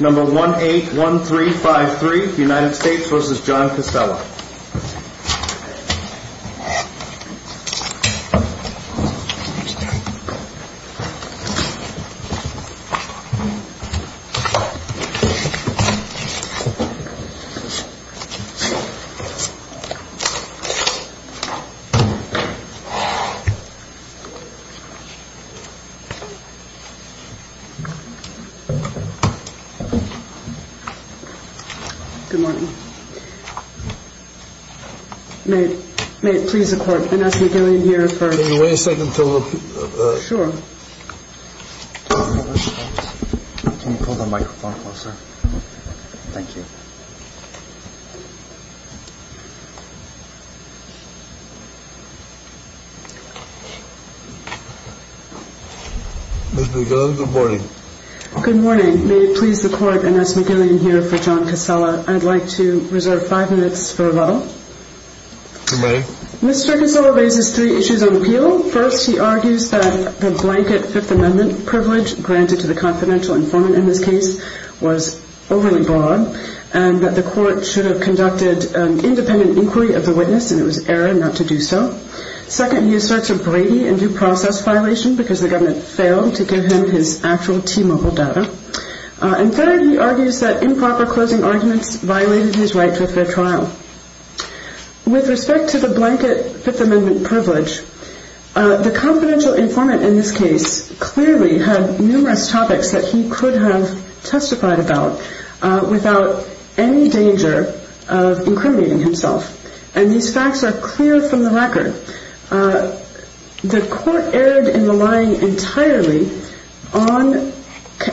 Number 181353 United States v. John Cascella Good morning. May it please the court, Vanessa Gillian here for Can you wait a second? Sure. Can you pull the microphone closer? Thank you. Ms. Magillan, good morning. Good morning. May it please the court, Vanessa Magillan here for John Cascella. I'd like to reserve five minutes for rebuttal. Mr. Cascella raises three issues on appeal. First, he argues that the blanket Fifth Amendment privilege granted to the confidential informant in this case was overly broad and that the government conducted an independent inquiry of the witness and it was error not to do so. Second, he asserts a Brady and due process violation because the government failed to give him his actual T-Mobile data. And third, he argues that improper closing arguments violated his right to a fair trial. With respect to the blanket Fifth Amendment privilege, the confidential informant in this case clearly had numerous topics that he could have testified about without any danger of incriminating himself. And these facts are clear from the record. The court erred in relying entirely on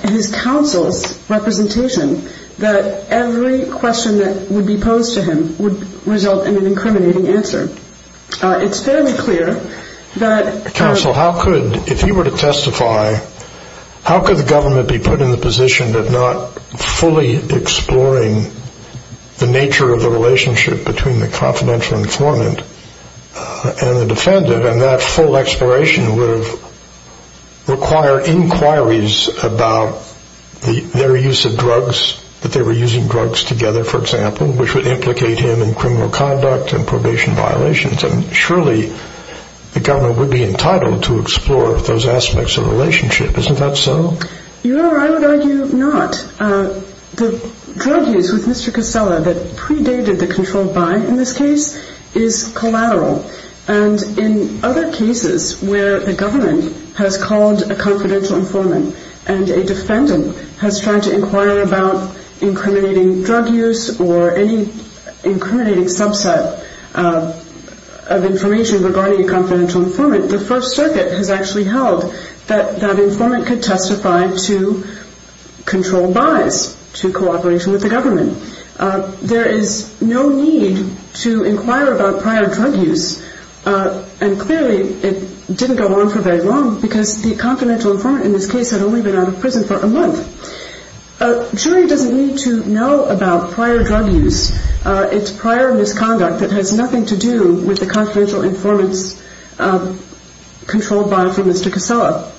his counsel's representation that every question that would be posed to him would result in an incriminating answer. It's fairly clear that counsel, how could, if he were to testify, how could the government be put in the position of not fully exploring the nature of the relationship between the confidential informant and the defendant and that full exploration would have required inquiries about their use of drugs, that they were in a relationship. Surely the government would be entitled to explore those aspects of the relationship. Isn't that so? You know, I would argue not. The drug use with Mr. Casella that predated the controlled buying in this case is collateral. And in other cases where the government has called a confidential informant and a defendant has tried to inquire about incriminating drug use or any incriminating subset of the confidential informant, the First Circuit has actually held that that informant could testify to controlled buys, to cooperation with the government. There is no need to inquire about prior drug use, and clearly it didn't go on for very long, because the confidential informant in this case had only been out of prison for a month. A jury doesn't need to know about prior drug use. It's prior misconduct that has nothing to do with the confidential informant's controlled buy from Mr. Casella.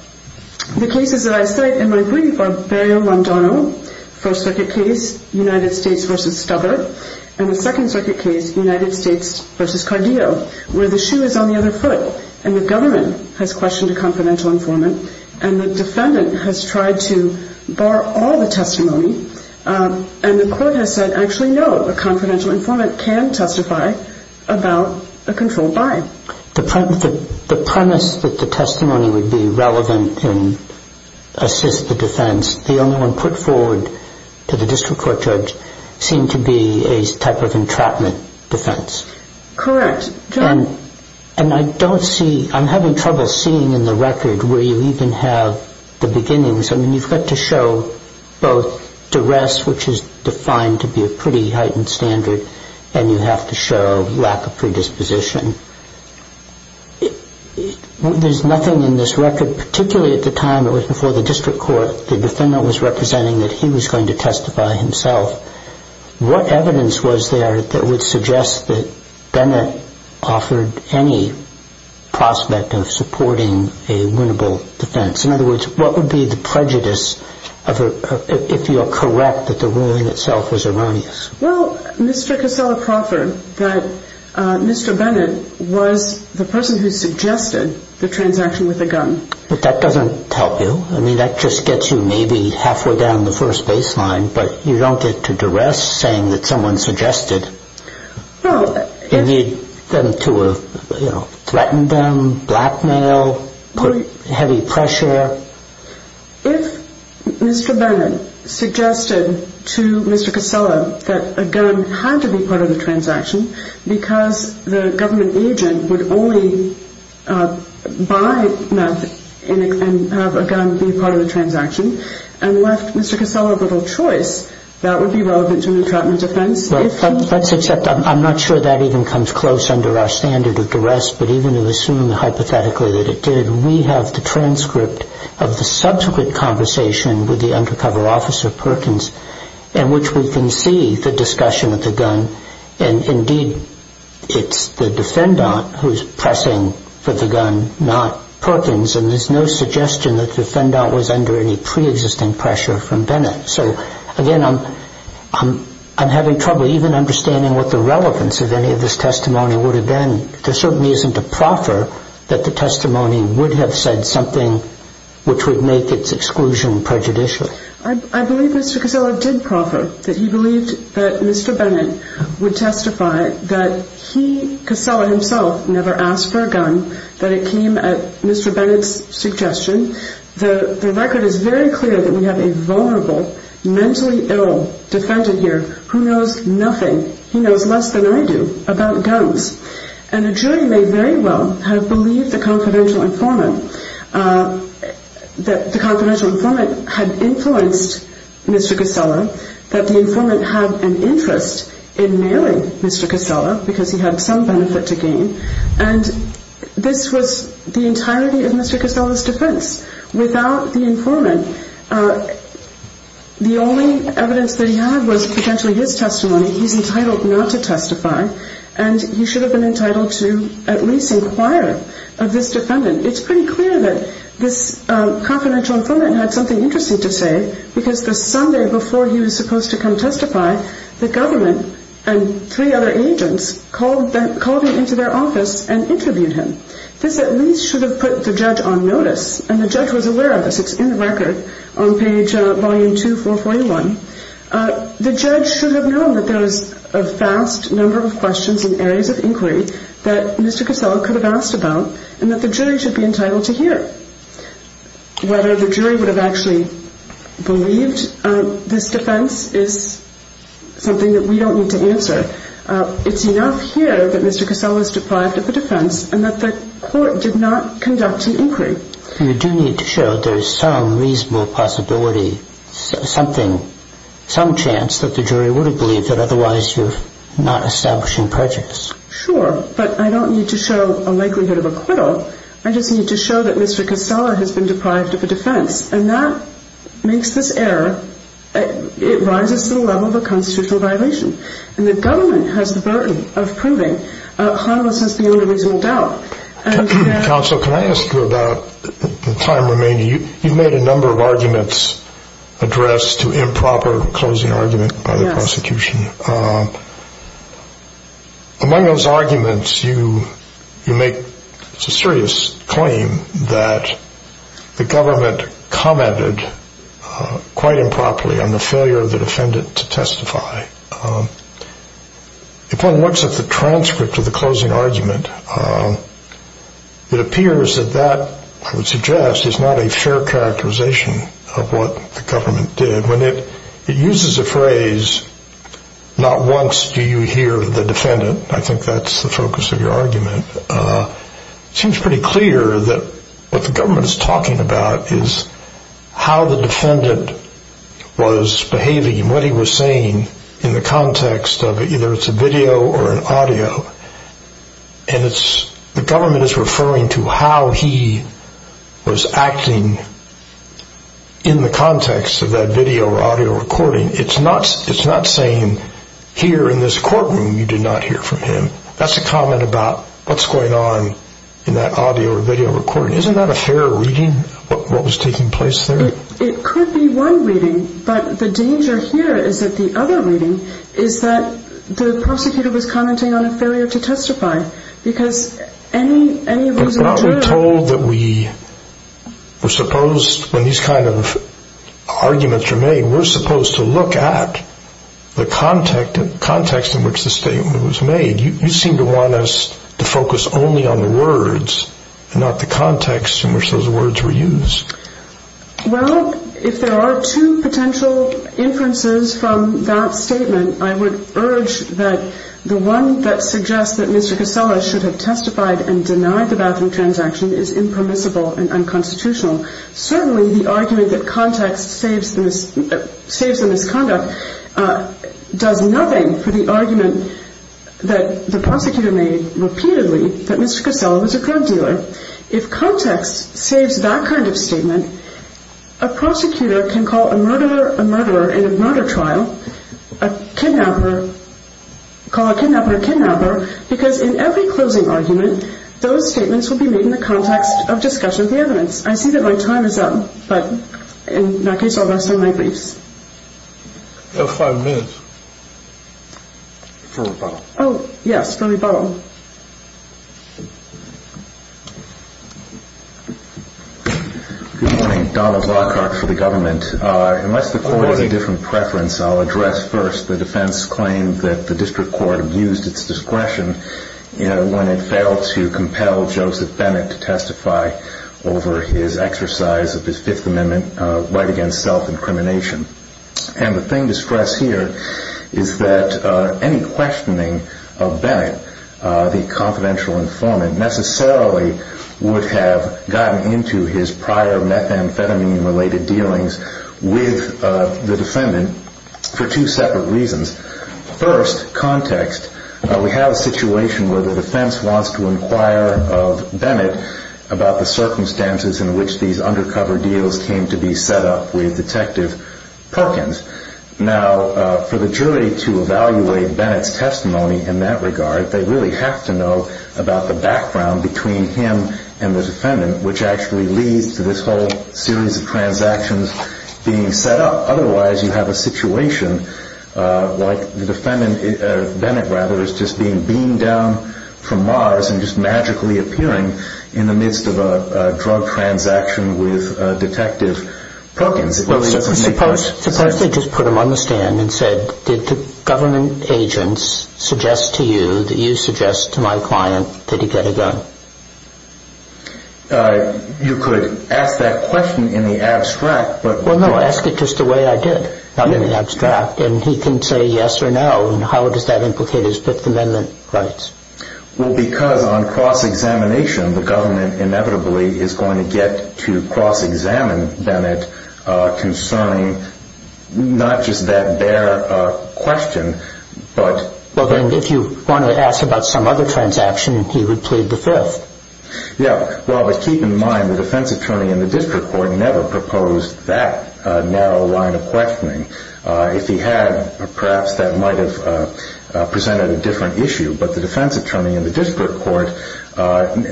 The cases that I cite in my brief are Berrio-Landano, First Circuit case, United States v. Stubbart, and the Second Circuit case, United States v. Cardillo, where the shoe is on the other foot and the government has questioned a confidential informant and the defendant has tried to bar all the testimony and the court has said actually no, a controlled buy. The premise that the testimony would be relevant and assist the defense, the only one put forward to the district court judge, seemed to be a type of entrapment defense. Correct. And I don't see, I'm having trouble seeing in the record where you even have the beginnings. I mean, you've got to show both duress, which is an arbitrary proposition. There's nothing in this record particularly at the time it was before the district court the defendant was representing that he was going to testify himself, what evidence was there that would suggest that Bennett offered any prospect of supporting a winnable defense? In other words, what would be the prejudice if you are correct that the ruling itself was erroneous? Well, Mr. Casella proffered that Mr. Bennett was the person who suggested the transaction with the gun. But that doesn't help you. I mean, that just gets you maybe halfway down the first baseline, but you don't get to duress saying that someone suggested. You need them to threaten them, blackmail, put heavy pressure. If Mr. Bennett suggested to Mr. Casella that a gun had to be part of the transaction because the government agent would only buy meth and have a gun be part of the transaction and left Mr. Casella little choice, that would be relevant to an entrapment offense. Let's accept that. I'm not sure that even comes close under our standard of duress, but even assuming hypothetically that it did, we have the transcript of the subsequent conversation with the undercover officer, Perkins, in which we can see the discussion of the gun. And indeed, it's the defendant who is pressing for the gun, not Perkins, and there's no suggestion that the defendant was under any pre-existing pressure from Bennett. So again, I'm having trouble even understanding what the relevance of any of this testimony would have been. There certainly isn't a proffer that the testimony would have said something which would make its exclusion prejudicial. I believe Mr. Casella did proffer that he believed that Mr. Bennett would testify that he, Casella himself, never asked for a gun, that it came at Mr. Bennett's suggestion. The record is very clear that we have a vulnerable, mentally ill defendant here who knows nothing, he knows less than I do, about guns. And a jury may very well have believed the confidential informant had influenced Mr. Casella, that the informant had an interest in mailing Mr. Casella because he had some benefit to gain, and this was the entirety of Mr. Casella's defense. Without the informant, the only evidence that he had was potentially his testimony, he's entitled not to testify, and he should have been entitled to at least inquire of this defendant. It's pretty clear that this confidential informant had something interesting to say because the Sunday before he was supposed to come testify, the government and three other agents called him into their office and interviewed him. This at least should have put the judge on notice, and the judge was aware of this. It's in the record that Mr. Casella had asked for a gun. The judge should have known that there was a vast number of questions and areas of inquiry that Mr. Casella could have asked about, and that the jury should be entitled to hear. Whether the jury would have actually believed this defense is something that we don't need to answer. It's enough here that Mr. Casella is deprived of the defense and that the court did not conduct an inquiry. There's some chance that the jury would have believed it, otherwise you're not establishing prejudice. Sure, but I don't need to show a likelihood of acquittal. I just need to show that Mr. Casella has been deprived of a defense, and that makes this error, it rises to the level of a constitutional violation, and the government has the burden of proving Honolulu has the only reasonable doubt. Counsel, can I ask you about the time remaining? You've made a number of arguments addressed to improper use of the proper closing argument by the prosecution. Among those arguments you make a serious claim that the government commented quite improperly on the failure of the defendant to testify. If one looks at the transcript of the closing argument, it appears that that, I would suggest, is not a fair characterization of what the government did. When it uses the phrase, not once do you hear the defendant, I think that's the focus of your argument, it seems pretty clear that what the government is talking about is how the defendant was behaving and what he was saying in the context of either it's a video or an audio, and the government is referring to how he was acting in the context of that video. It's not saying here in this courtroom you did not hear from him. That's a comment about what's going on in that audio or video recording. Isn't that a fair reading, what was taking place there? It could be one reading, but the danger here is that the other reading is that the prosecutor was commenting on a failure to testify, because any reason to do it... When these kinds of arguments are made, we're supposed to look at the context in which the statement was made. You seem to want us to focus only on the words and not the context in which those words were used. Well, if there are two potential inferences from that statement, I would urge that the one that suggests that Mr. Casella should have testified and denied the bathroom transaction is impermissible and unconstitutional. Certainly the argument that context saves the misconduct does nothing for the argument that the prosecutor made repeatedly that Mr. Casella was a drug dealer. If context saves that kind of statement, a prosecutor can call a murderer a murderer in a murder trial, call a kidnapper a kidnapper, because in every closing argument, those statements will be made in the context of discussion of the evidence. The time is up, but in that case, I'll restore my briefs. You have five minutes for rebuttal. Oh, yes, let me borrow. Good morning. Donald Lockhart for the government. Unless the court has a different preference, I'll address first the defense's claim that the district court abused its discretion when it failed to compel Joseph Bennett to testify over his exercise of discretion. And I'll also address the defense's claim that the district court abused its discretion when it failed to compel Joseph Bennett to testify over his exercise of his Fifth Amendment right against self-incrimination. And the thing to stress here is that any questioning of Bennett, the confidential informant, necessarily would have gotten into his prior methamphetamine-related dealings with the defendant for two separate reasons. First, context. We have a situation where the defense wants to inquire of Bennett about the circumstances in which these undercover deals came to be set up with Detective Perkins. Now, for the jury to evaluate Bennett's testimony in that regard, they really have to know about the background between him and the defendant, which actually leads to this whole series of transactions being set up. Otherwise, you have a situation like the defendant, Bennett rather, is just being beamed down from Mars and just magically appearing in the midst of a drug transaction with Detective Perkins. Suppose they just put him on the stand and said, did the government agents suggest to you that you suggest to my client that he get a gun? You could ask that question in the abstract, but... Well, no, ask it just the way I did, not in the abstract, and he can say yes or no, and how does that implicate his Fifth Amendment rights? Well, because on cross-examination, the government inevitably is going to get to cross-examine Bennett concerning not just that bare question, but... Well, then, if you want to ask about some other transaction, he would plead the Fifth. Yeah, well, but keep in mind, the defense attorney in the district court never proposed that narrow line of questioning. If he had, perhaps that might have presented a different issue, but the defense attorney in the district court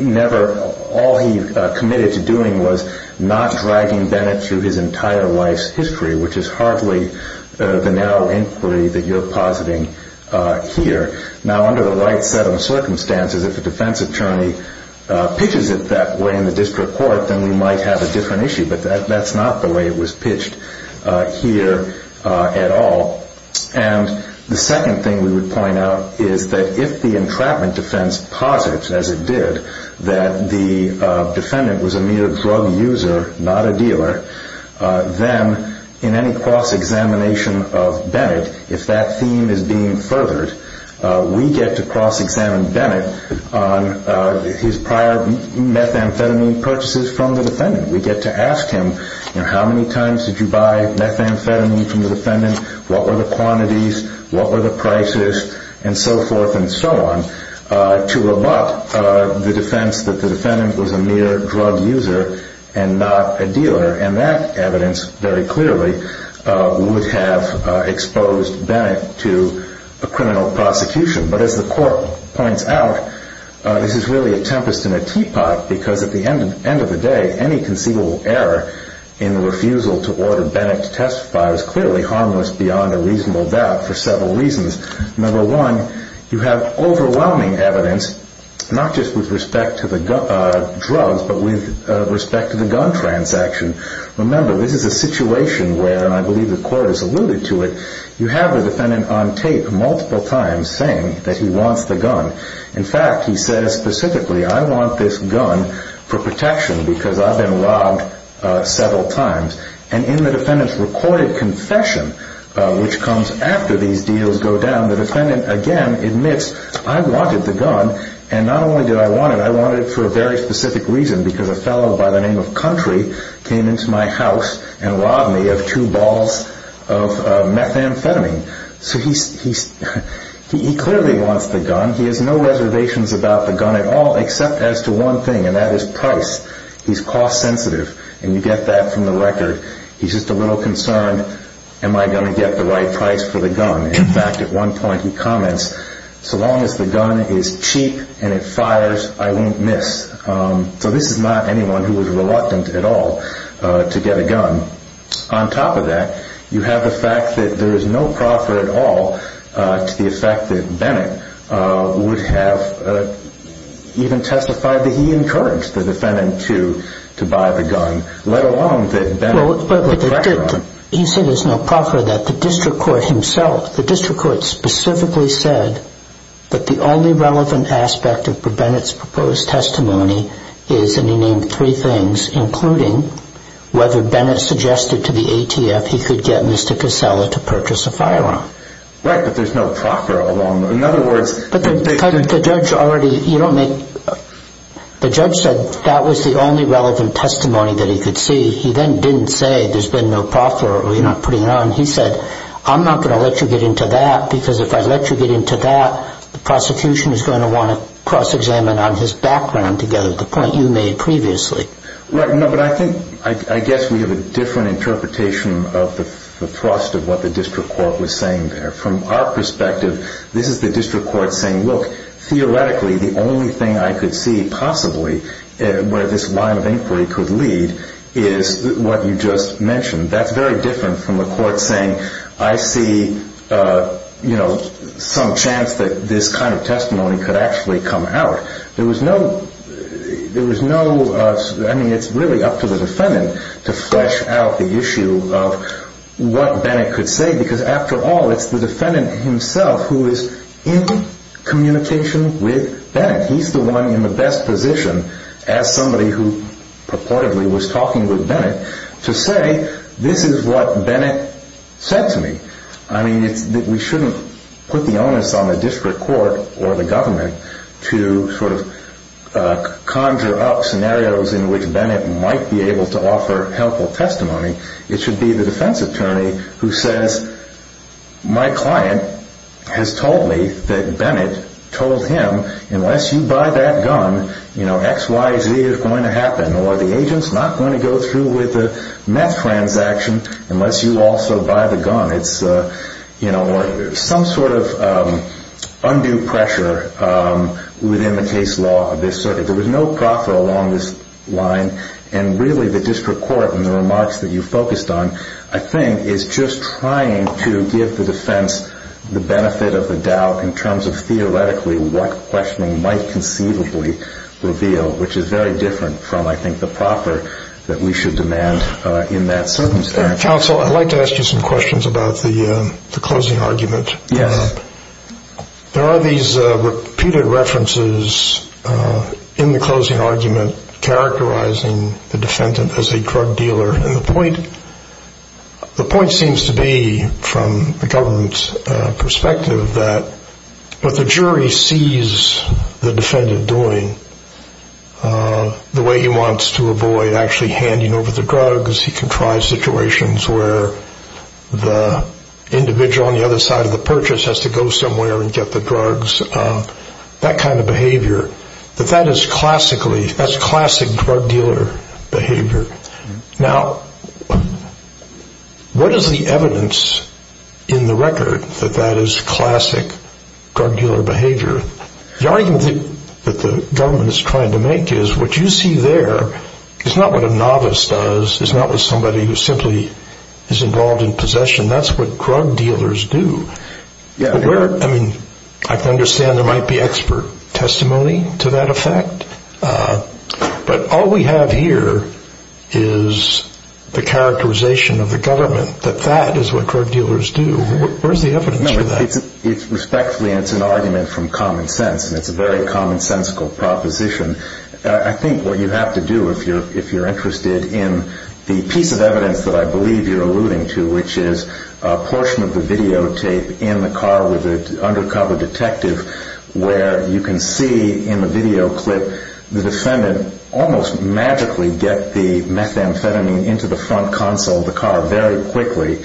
never... All he committed to doing was not dragging Bennett through his entire life's history, which is hardly the narrow inquiry that you're positing he would have. Now, under the right set of circumstances, if a defense attorney pitches it that way in the district court, then we might have a different issue, but that's not the way it was pitched here at all. And the second thing we would point out is that if the entrapment defense posits, as it did, that the defendant was a mere drug user, not a dealer, then in any cross-examination of Bennett, if that theme is being furthered, we get to cross-examine Bennett on his prior methamphetamine purchases from the defendant. We get to ask him, you know, how many times did you buy methamphetamine from the defendant, what were the quantities, what were the prices, and so forth and so on, to allot the defense that the defendant was a mere drug user and not a dealer. And that evidence, very clearly, would have exposed Bennett to a criminal prosecution. But as the court points out, this is really a tempest in a teapot, because at the end of the day, any conceivable error in the refusal to order Bennett to testify is clearly harmless beyond a reasonable doubt for several reasons. Number one, you have overwhelming evidence, not just with respect to the drugs, but with respect to the gun transaction. Remember, this is a situation where, and I believe the court has alluded to it, you have a defendant on tape multiple times, and the defendant is not a dealer. He's not saying that he wants the gun. In fact, he says specifically, I want this gun for protection because I've been robbed several times. And in the defendant's recorded confession, which comes after these deals go down, the defendant again admits, I wanted the gun, and not only did I want it, I wanted it for a very specific reason, because a fellow by the name of Country came into my house and robbed me of two balls of methamphetamine. So he clearly wants the gun. He has no reservations about the gun at all, except as to one thing, and that is price. He's cost sensitive, and you get that from the record. He's just a little concerned, am I going to get the right price for the gun? In fact, at one point he comments, so long as the gun is cheap and it fires, I won't miss. So this is not anyone who is reluctant at all to get a gun. On top of that, you have the fact that there is no proffer at all to the effect that Bennett would have even testified that he encouraged the defendant to buy the gun, let alone that Bennett... He said there's no proffer that the district court himself, the district court specifically said that the only relevant aspect of Bennett's proposed testimony is, and he named three things, including whether Bennett suggested to the ATF he could get Mr. Casella to purchase a firearm. Right, but there's no proffer along those lines. The judge said that was the only relevant testimony that he could see. He then didn't say there's been no proffer or you're not putting it on. He said, I'm not going to let you get into that, because if I let you get into that, the prosecution is going to want to cross-examine on his background to get at the point you made previously. Right, but I think, I guess we have a different interpretation of the thrust of what the district court was saying there. From our perspective, this is the district court saying, look, theoretically, the only thing I could see possibly where this line of inquiry could lead is what you just mentioned. That's very different from the court saying, I see, you know, some chance that we could get Mr. Casella to purchase a firearm. This kind of testimony could actually come out. There was no, I mean, it's really up to the defendant to flesh out the issue of what Bennett could say, because after all, it's the defendant himself who is in communication with Bennett. He's the one in the best position as somebody who purportedly was talking with Bennett to say, this is what Bennett said to me. I mean, we shouldn't put the onus on the district court or the government to sort of conjure up scenarios in which Bennett might be able to offer helpful testimony. It should be the defense attorney who says, my client has told me that Bennett told him, unless you buy that gun, XYZ is going to happen, or the agent's not going to go through with the meth transaction unless you also buy the gun. There's some sort of undue pressure within the case law of this circuit. There was no proffer along this line, and really the district court in the remarks that you focused on, I think, is just trying to give the defense the benefit of the doubt in terms of theoretically what questioning might conceivably reveal, which is very different from, I think, the proffer that we should demand in that circumstance. Counsel, I'd like to ask you some questions about the closing argument. There are these repeated references in the closing argument characterizing the defendant as a drug dealer, and the point seems to be, from the government's perspective, that what the jury sees the defendant doing, the way he wants to avoid actually handing over the drugs, he can try situations where the individual on the other side of the purchase has to go somewhere and get the drugs, that kind of behavior, that that is classic drug dealer behavior. Now, what is the evidence in the record that that is classic drug dealer behavior? The argument that the government is trying to make is, what you see there is not what a novice does, is not what somebody who simply is involved in possession, that's what drug dealers do. I mean, I can understand there might be expert testimony to that effect, but all we have here is the characterization of the government that that is what drug dealers do. Where's the evidence for that? It's respectfully, and it's an argument from common sense, and it's a very commonsensical proposition. I think what you have to do if you're interested in the piece of evidence that I believe you're alluding to, which is a portion of the videotape in the car with an undercover detective, where you can see in the video clip the defendant almost magically get the methamphetamine into the front console of the car very quickly.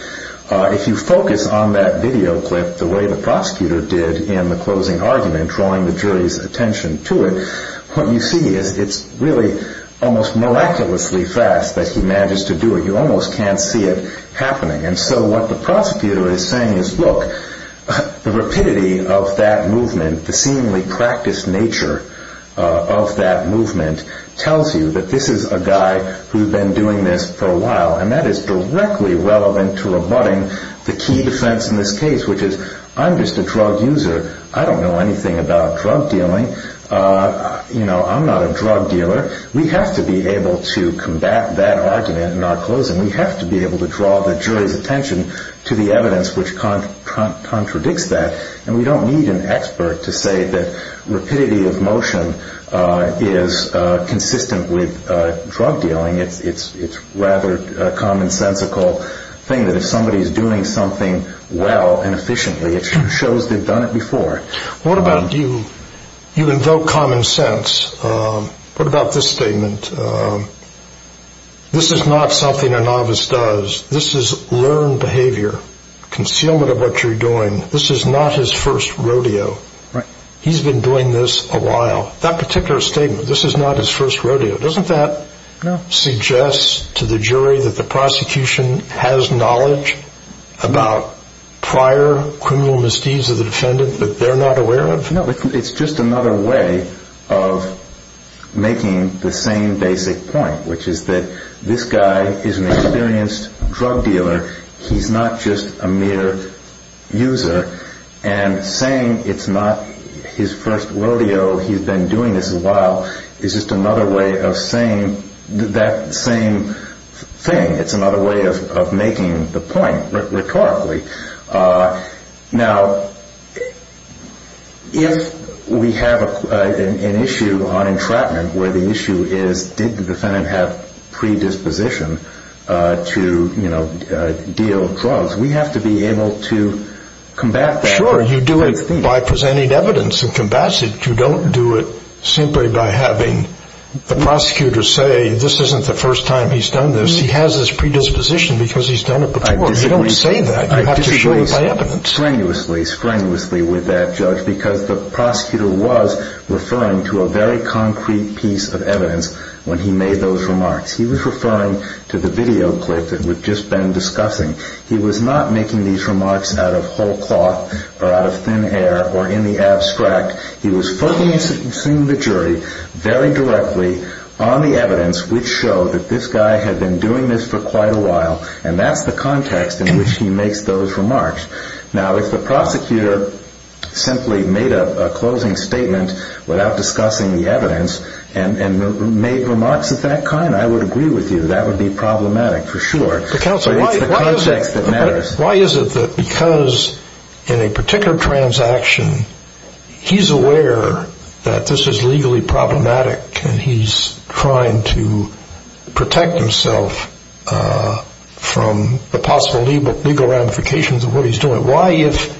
If you focus on that video clip the way the prosecutor did in the closing argument, and drawing the jury's attention to it, what you see is it's really almost miraculously fast that he manages to do it. You almost can't see it happening, and so what the prosecutor is saying is, look, the rapidity of that movement, the seemingly practiced nature of that movement, tells you that this is a guy who's been doing this for a while, and that is directly relevant to rebutting the key defense in this case, which is, I'm just a drug user. I don't know anything about drug dealing. I'm not a drug dealer. We have to be able to combat that argument in our closing. We have to be able to draw the jury's attention to the evidence which contradicts that, and we don't need an expert to say that rapidity of motion is consistent with drug dealing. It's a rather commonsensical thing that if somebody is doing something well and efficiently, it shows they've done it before. What about you? You invoke common sense. What about this statement? This is not something a novice does. This is learned behavior, concealment of what you're doing. This is not his first rodeo. He's been doing this a while. That particular statement, this is not his first rodeo, doesn't that suggest to the jury that the prosecution has knowledge about prior criminal misdeeds of the defendant that they're not aware of? No, it's just another way of making the same basic point, which is that this guy is an experienced drug dealer. He's not just a mere user. And saying it's not his first rodeo, he's been doing this a while, is just another way of saying that same thing. It's another way of making the point rhetorically. Now, if we have an issue on entrapment where the issue is, did the defendant have predisposition to deal drugs, we have to be able to combat that. Sure, you do it by presenting evidence and combats it. You don't do it simply by having the prosecutor say this isn't the first time he's done this. He has this predisposition because he's done it before. You don't say that. You have to show it by evidence. I agree strenuously with that judge, because the prosecutor was referring to a very concrete piece of evidence when he made those remarks. He was referring to the video clip that we've just been discussing. He was not making these remarks out of whole cloth or out of thin air or in the abstract. He was focusing the jury very directly on the evidence, which showed that this guy had been doing this for quite a while, and that's the context in which he makes those remarks. Now, if the prosecutor simply made a closing statement without discussing the evidence and made remarks of that kind, I would agree with you. That would be problematic, for sure. Why is it that because in a particular transaction, he's aware that this is legally problematic and he's trying to protect himself from the possible legal ramifications of what he's doing? Why, if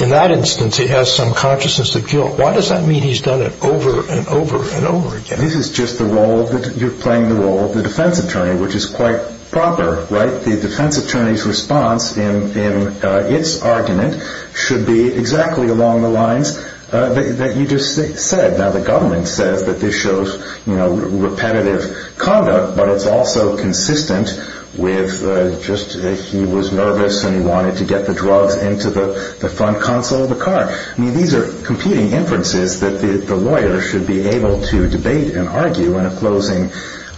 in that instance he has some consciousness of guilt, why does that mean he's done it over and over and over again? This is just the role that you're playing, the role of the defense attorney, which is quite proper, right? The defense attorney's response in its argument should be exactly along the lines that you just said. Now, the government says that this shows repetitive conduct, but it's also consistent with just he was nervous and he wanted to get the drugs into the front console of the car. I mean, these are competing inferences that the lawyer should be able to debate and argue in a closing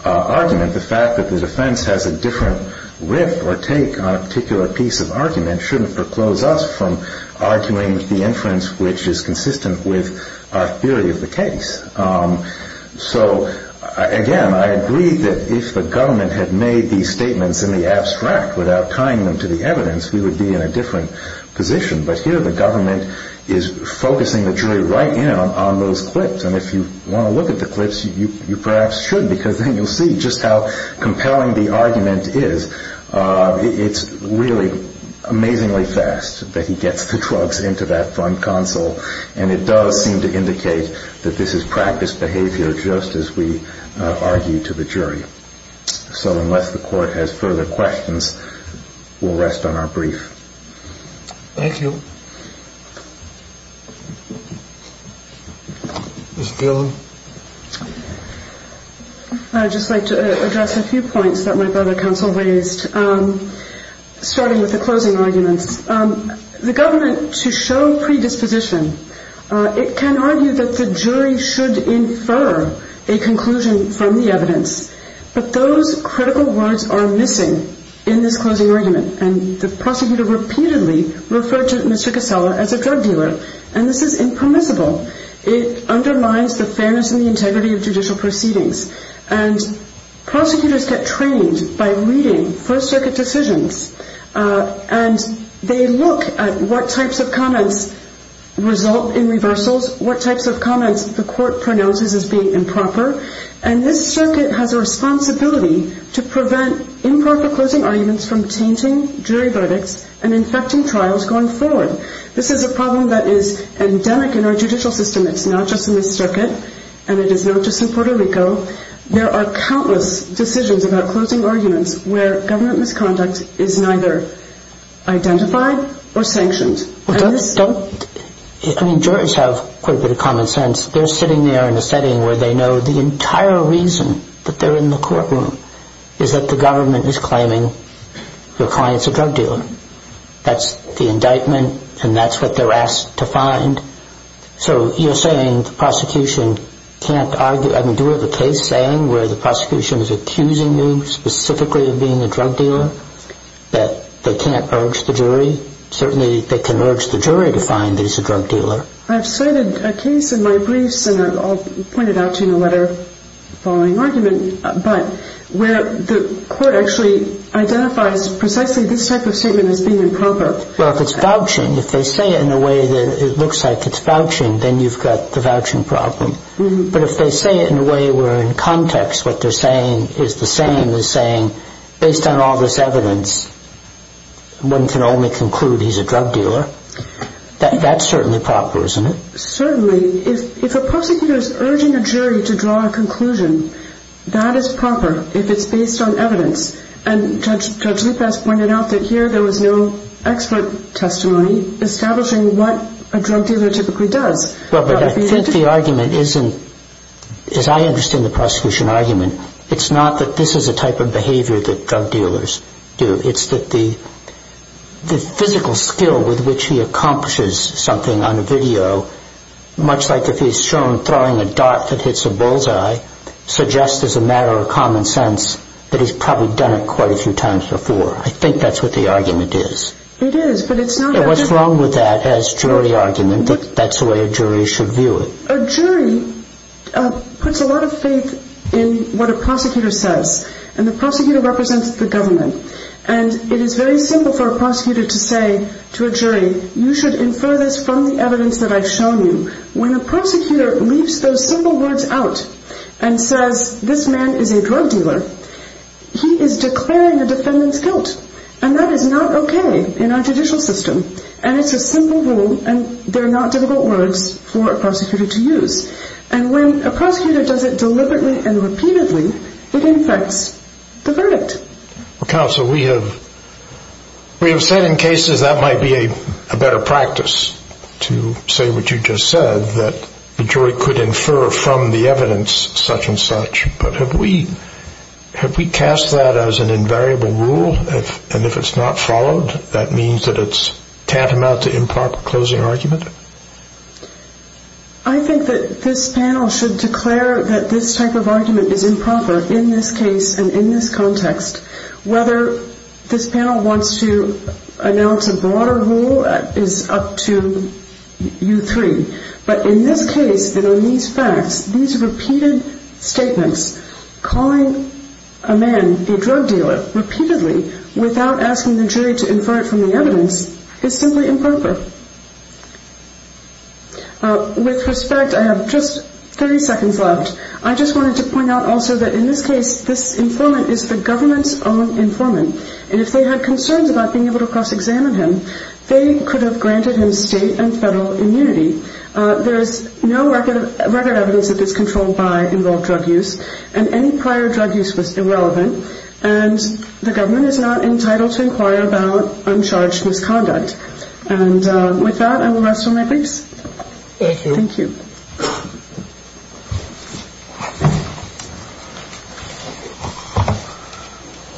argument. The fact that the defense has a different riff or take on a particular piece of argument shouldn't proclose us from arguing the inference which is consistent with our theory of the case. So, again, I agree that if the government had made these statements in the abstract without tying them to the evidence, we would be in a different position. But here the government is focusing the jury right in on those clips. And if you want to look at the clips, you perhaps should, because then you'll see just how compelling the argument is. It's really amazingly fast that he gets the drugs into that front console, and it does seem to indicate that this is practiced behavior just as we argue to the jury. So unless the court has further questions, we'll rest on our brief. Thank you. Ms. Gill. I'd just like to address a few points that my brother counsel raised, starting with the closing arguments. The government, to show predisposition, it can argue that the jury should infer a conclusion from the evidence. But those critical words are missing in this closing argument, and the prosecutor repeatedly referred to Mr. Casella as a drug dealer, and this is impermissible. It undermines the fairness and the integrity of judicial proceedings. And prosecutors get trained by reading First Circuit decisions, and they look at what types of comments result in reversals, what types of comments the court pronounces as being improper. And this circuit has a responsibility to prevent improper closing arguments from tainting jury verdicts and infecting trials going forward. This is a problem that is endemic in our judicial system. It's not just in this circuit, and it is not just in Puerto Rico. There are countless decisions about closing arguments where government misconduct is neither identified or sanctioned. I mean, jurors have quite a bit of common sense. They're sitting there in a setting where they know the entire reason that they're in the courtroom is that the government is claiming your client's a drug dealer. That's the indictment, and that's what they're asked to find. So you're saying the prosecution can't argue. I mean, do we have a case saying where the prosecution is accusing you specifically of being a drug dealer, that they can't urge the jury? Certainly they can urge the jury to find that he's a drug dealer. I've cited a case in my briefs, and I'll point it out to you in a letter following argument, but where the court actually identifies precisely this type of statement as being improper. Well, if it's vouching, if they say it in a way that it looks like it's vouching, then you've got the vouching problem. But if they say it in a way where in context what they're saying is the same and the prosecution is saying, based on all this evidence, one can only conclude he's a drug dealer, that's certainly proper, isn't it? Certainly. If a prosecutor is urging a jury to draw a conclusion, that is proper if it's based on evidence. And Judge Lupas pointed out that here there was no expert testimony establishing what a drug dealer typically does. Well, but I think the argument isn't, as I understand the prosecution argument, it's not that this is a type of behavior that drug dealers do. It's that the physical skill with which he accomplishes something on a video, much like if he's shown throwing a dart that hits a bullseye, suggests as a matter of common sense that he's probably done it quite a few times before. I think that's what the argument is. It is, but it's not that. And what's wrong with that as jury argument, that that's the way a jury should view it. A jury puts a lot of faith in what a prosecutor says. And the prosecutor represents the government. And it is very simple for a prosecutor to say to a jury, you should infer this from the evidence that I've shown you. When a prosecutor leaves those simple words out and says, this man is a drug dealer, he is declaring a defendant's guilt. And that is not okay in our judicial system. And it's a simple rule, and they're not difficult words for a prosecutor to use. And when a prosecutor does it deliberately and repeatedly, it infects the verdict. Counsel, we have said in cases that might be a better practice to say what you just said, that the jury could infer from the evidence such and such. But have we cast that as an invariable rule? And if it's not followed, that means that it's tantamount to improper closing argument? I think that this panel should declare that this type of argument is improper in this case and in this context. Whether this panel wants to announce a broader rule is up to you three. But in this case and on these facts, these repeated statements, calling a man a drug dealer repeatedly without asking the jury to infer it from the evidence is simply improper. With respect, I have just 30 seconds left. I just wanted to point out also that in this case, this informant is the government's own informant. And if they had concerns about being able to cross-examine him, they could have granted him state and federal immunity. There is no record evidence that this controlled by involved drug use, and any prior drug use was irrelevant. And the government is not entitled to inquire about uncharged misconduct. And with that, I will rest for my briefs. Thank you. Thank you.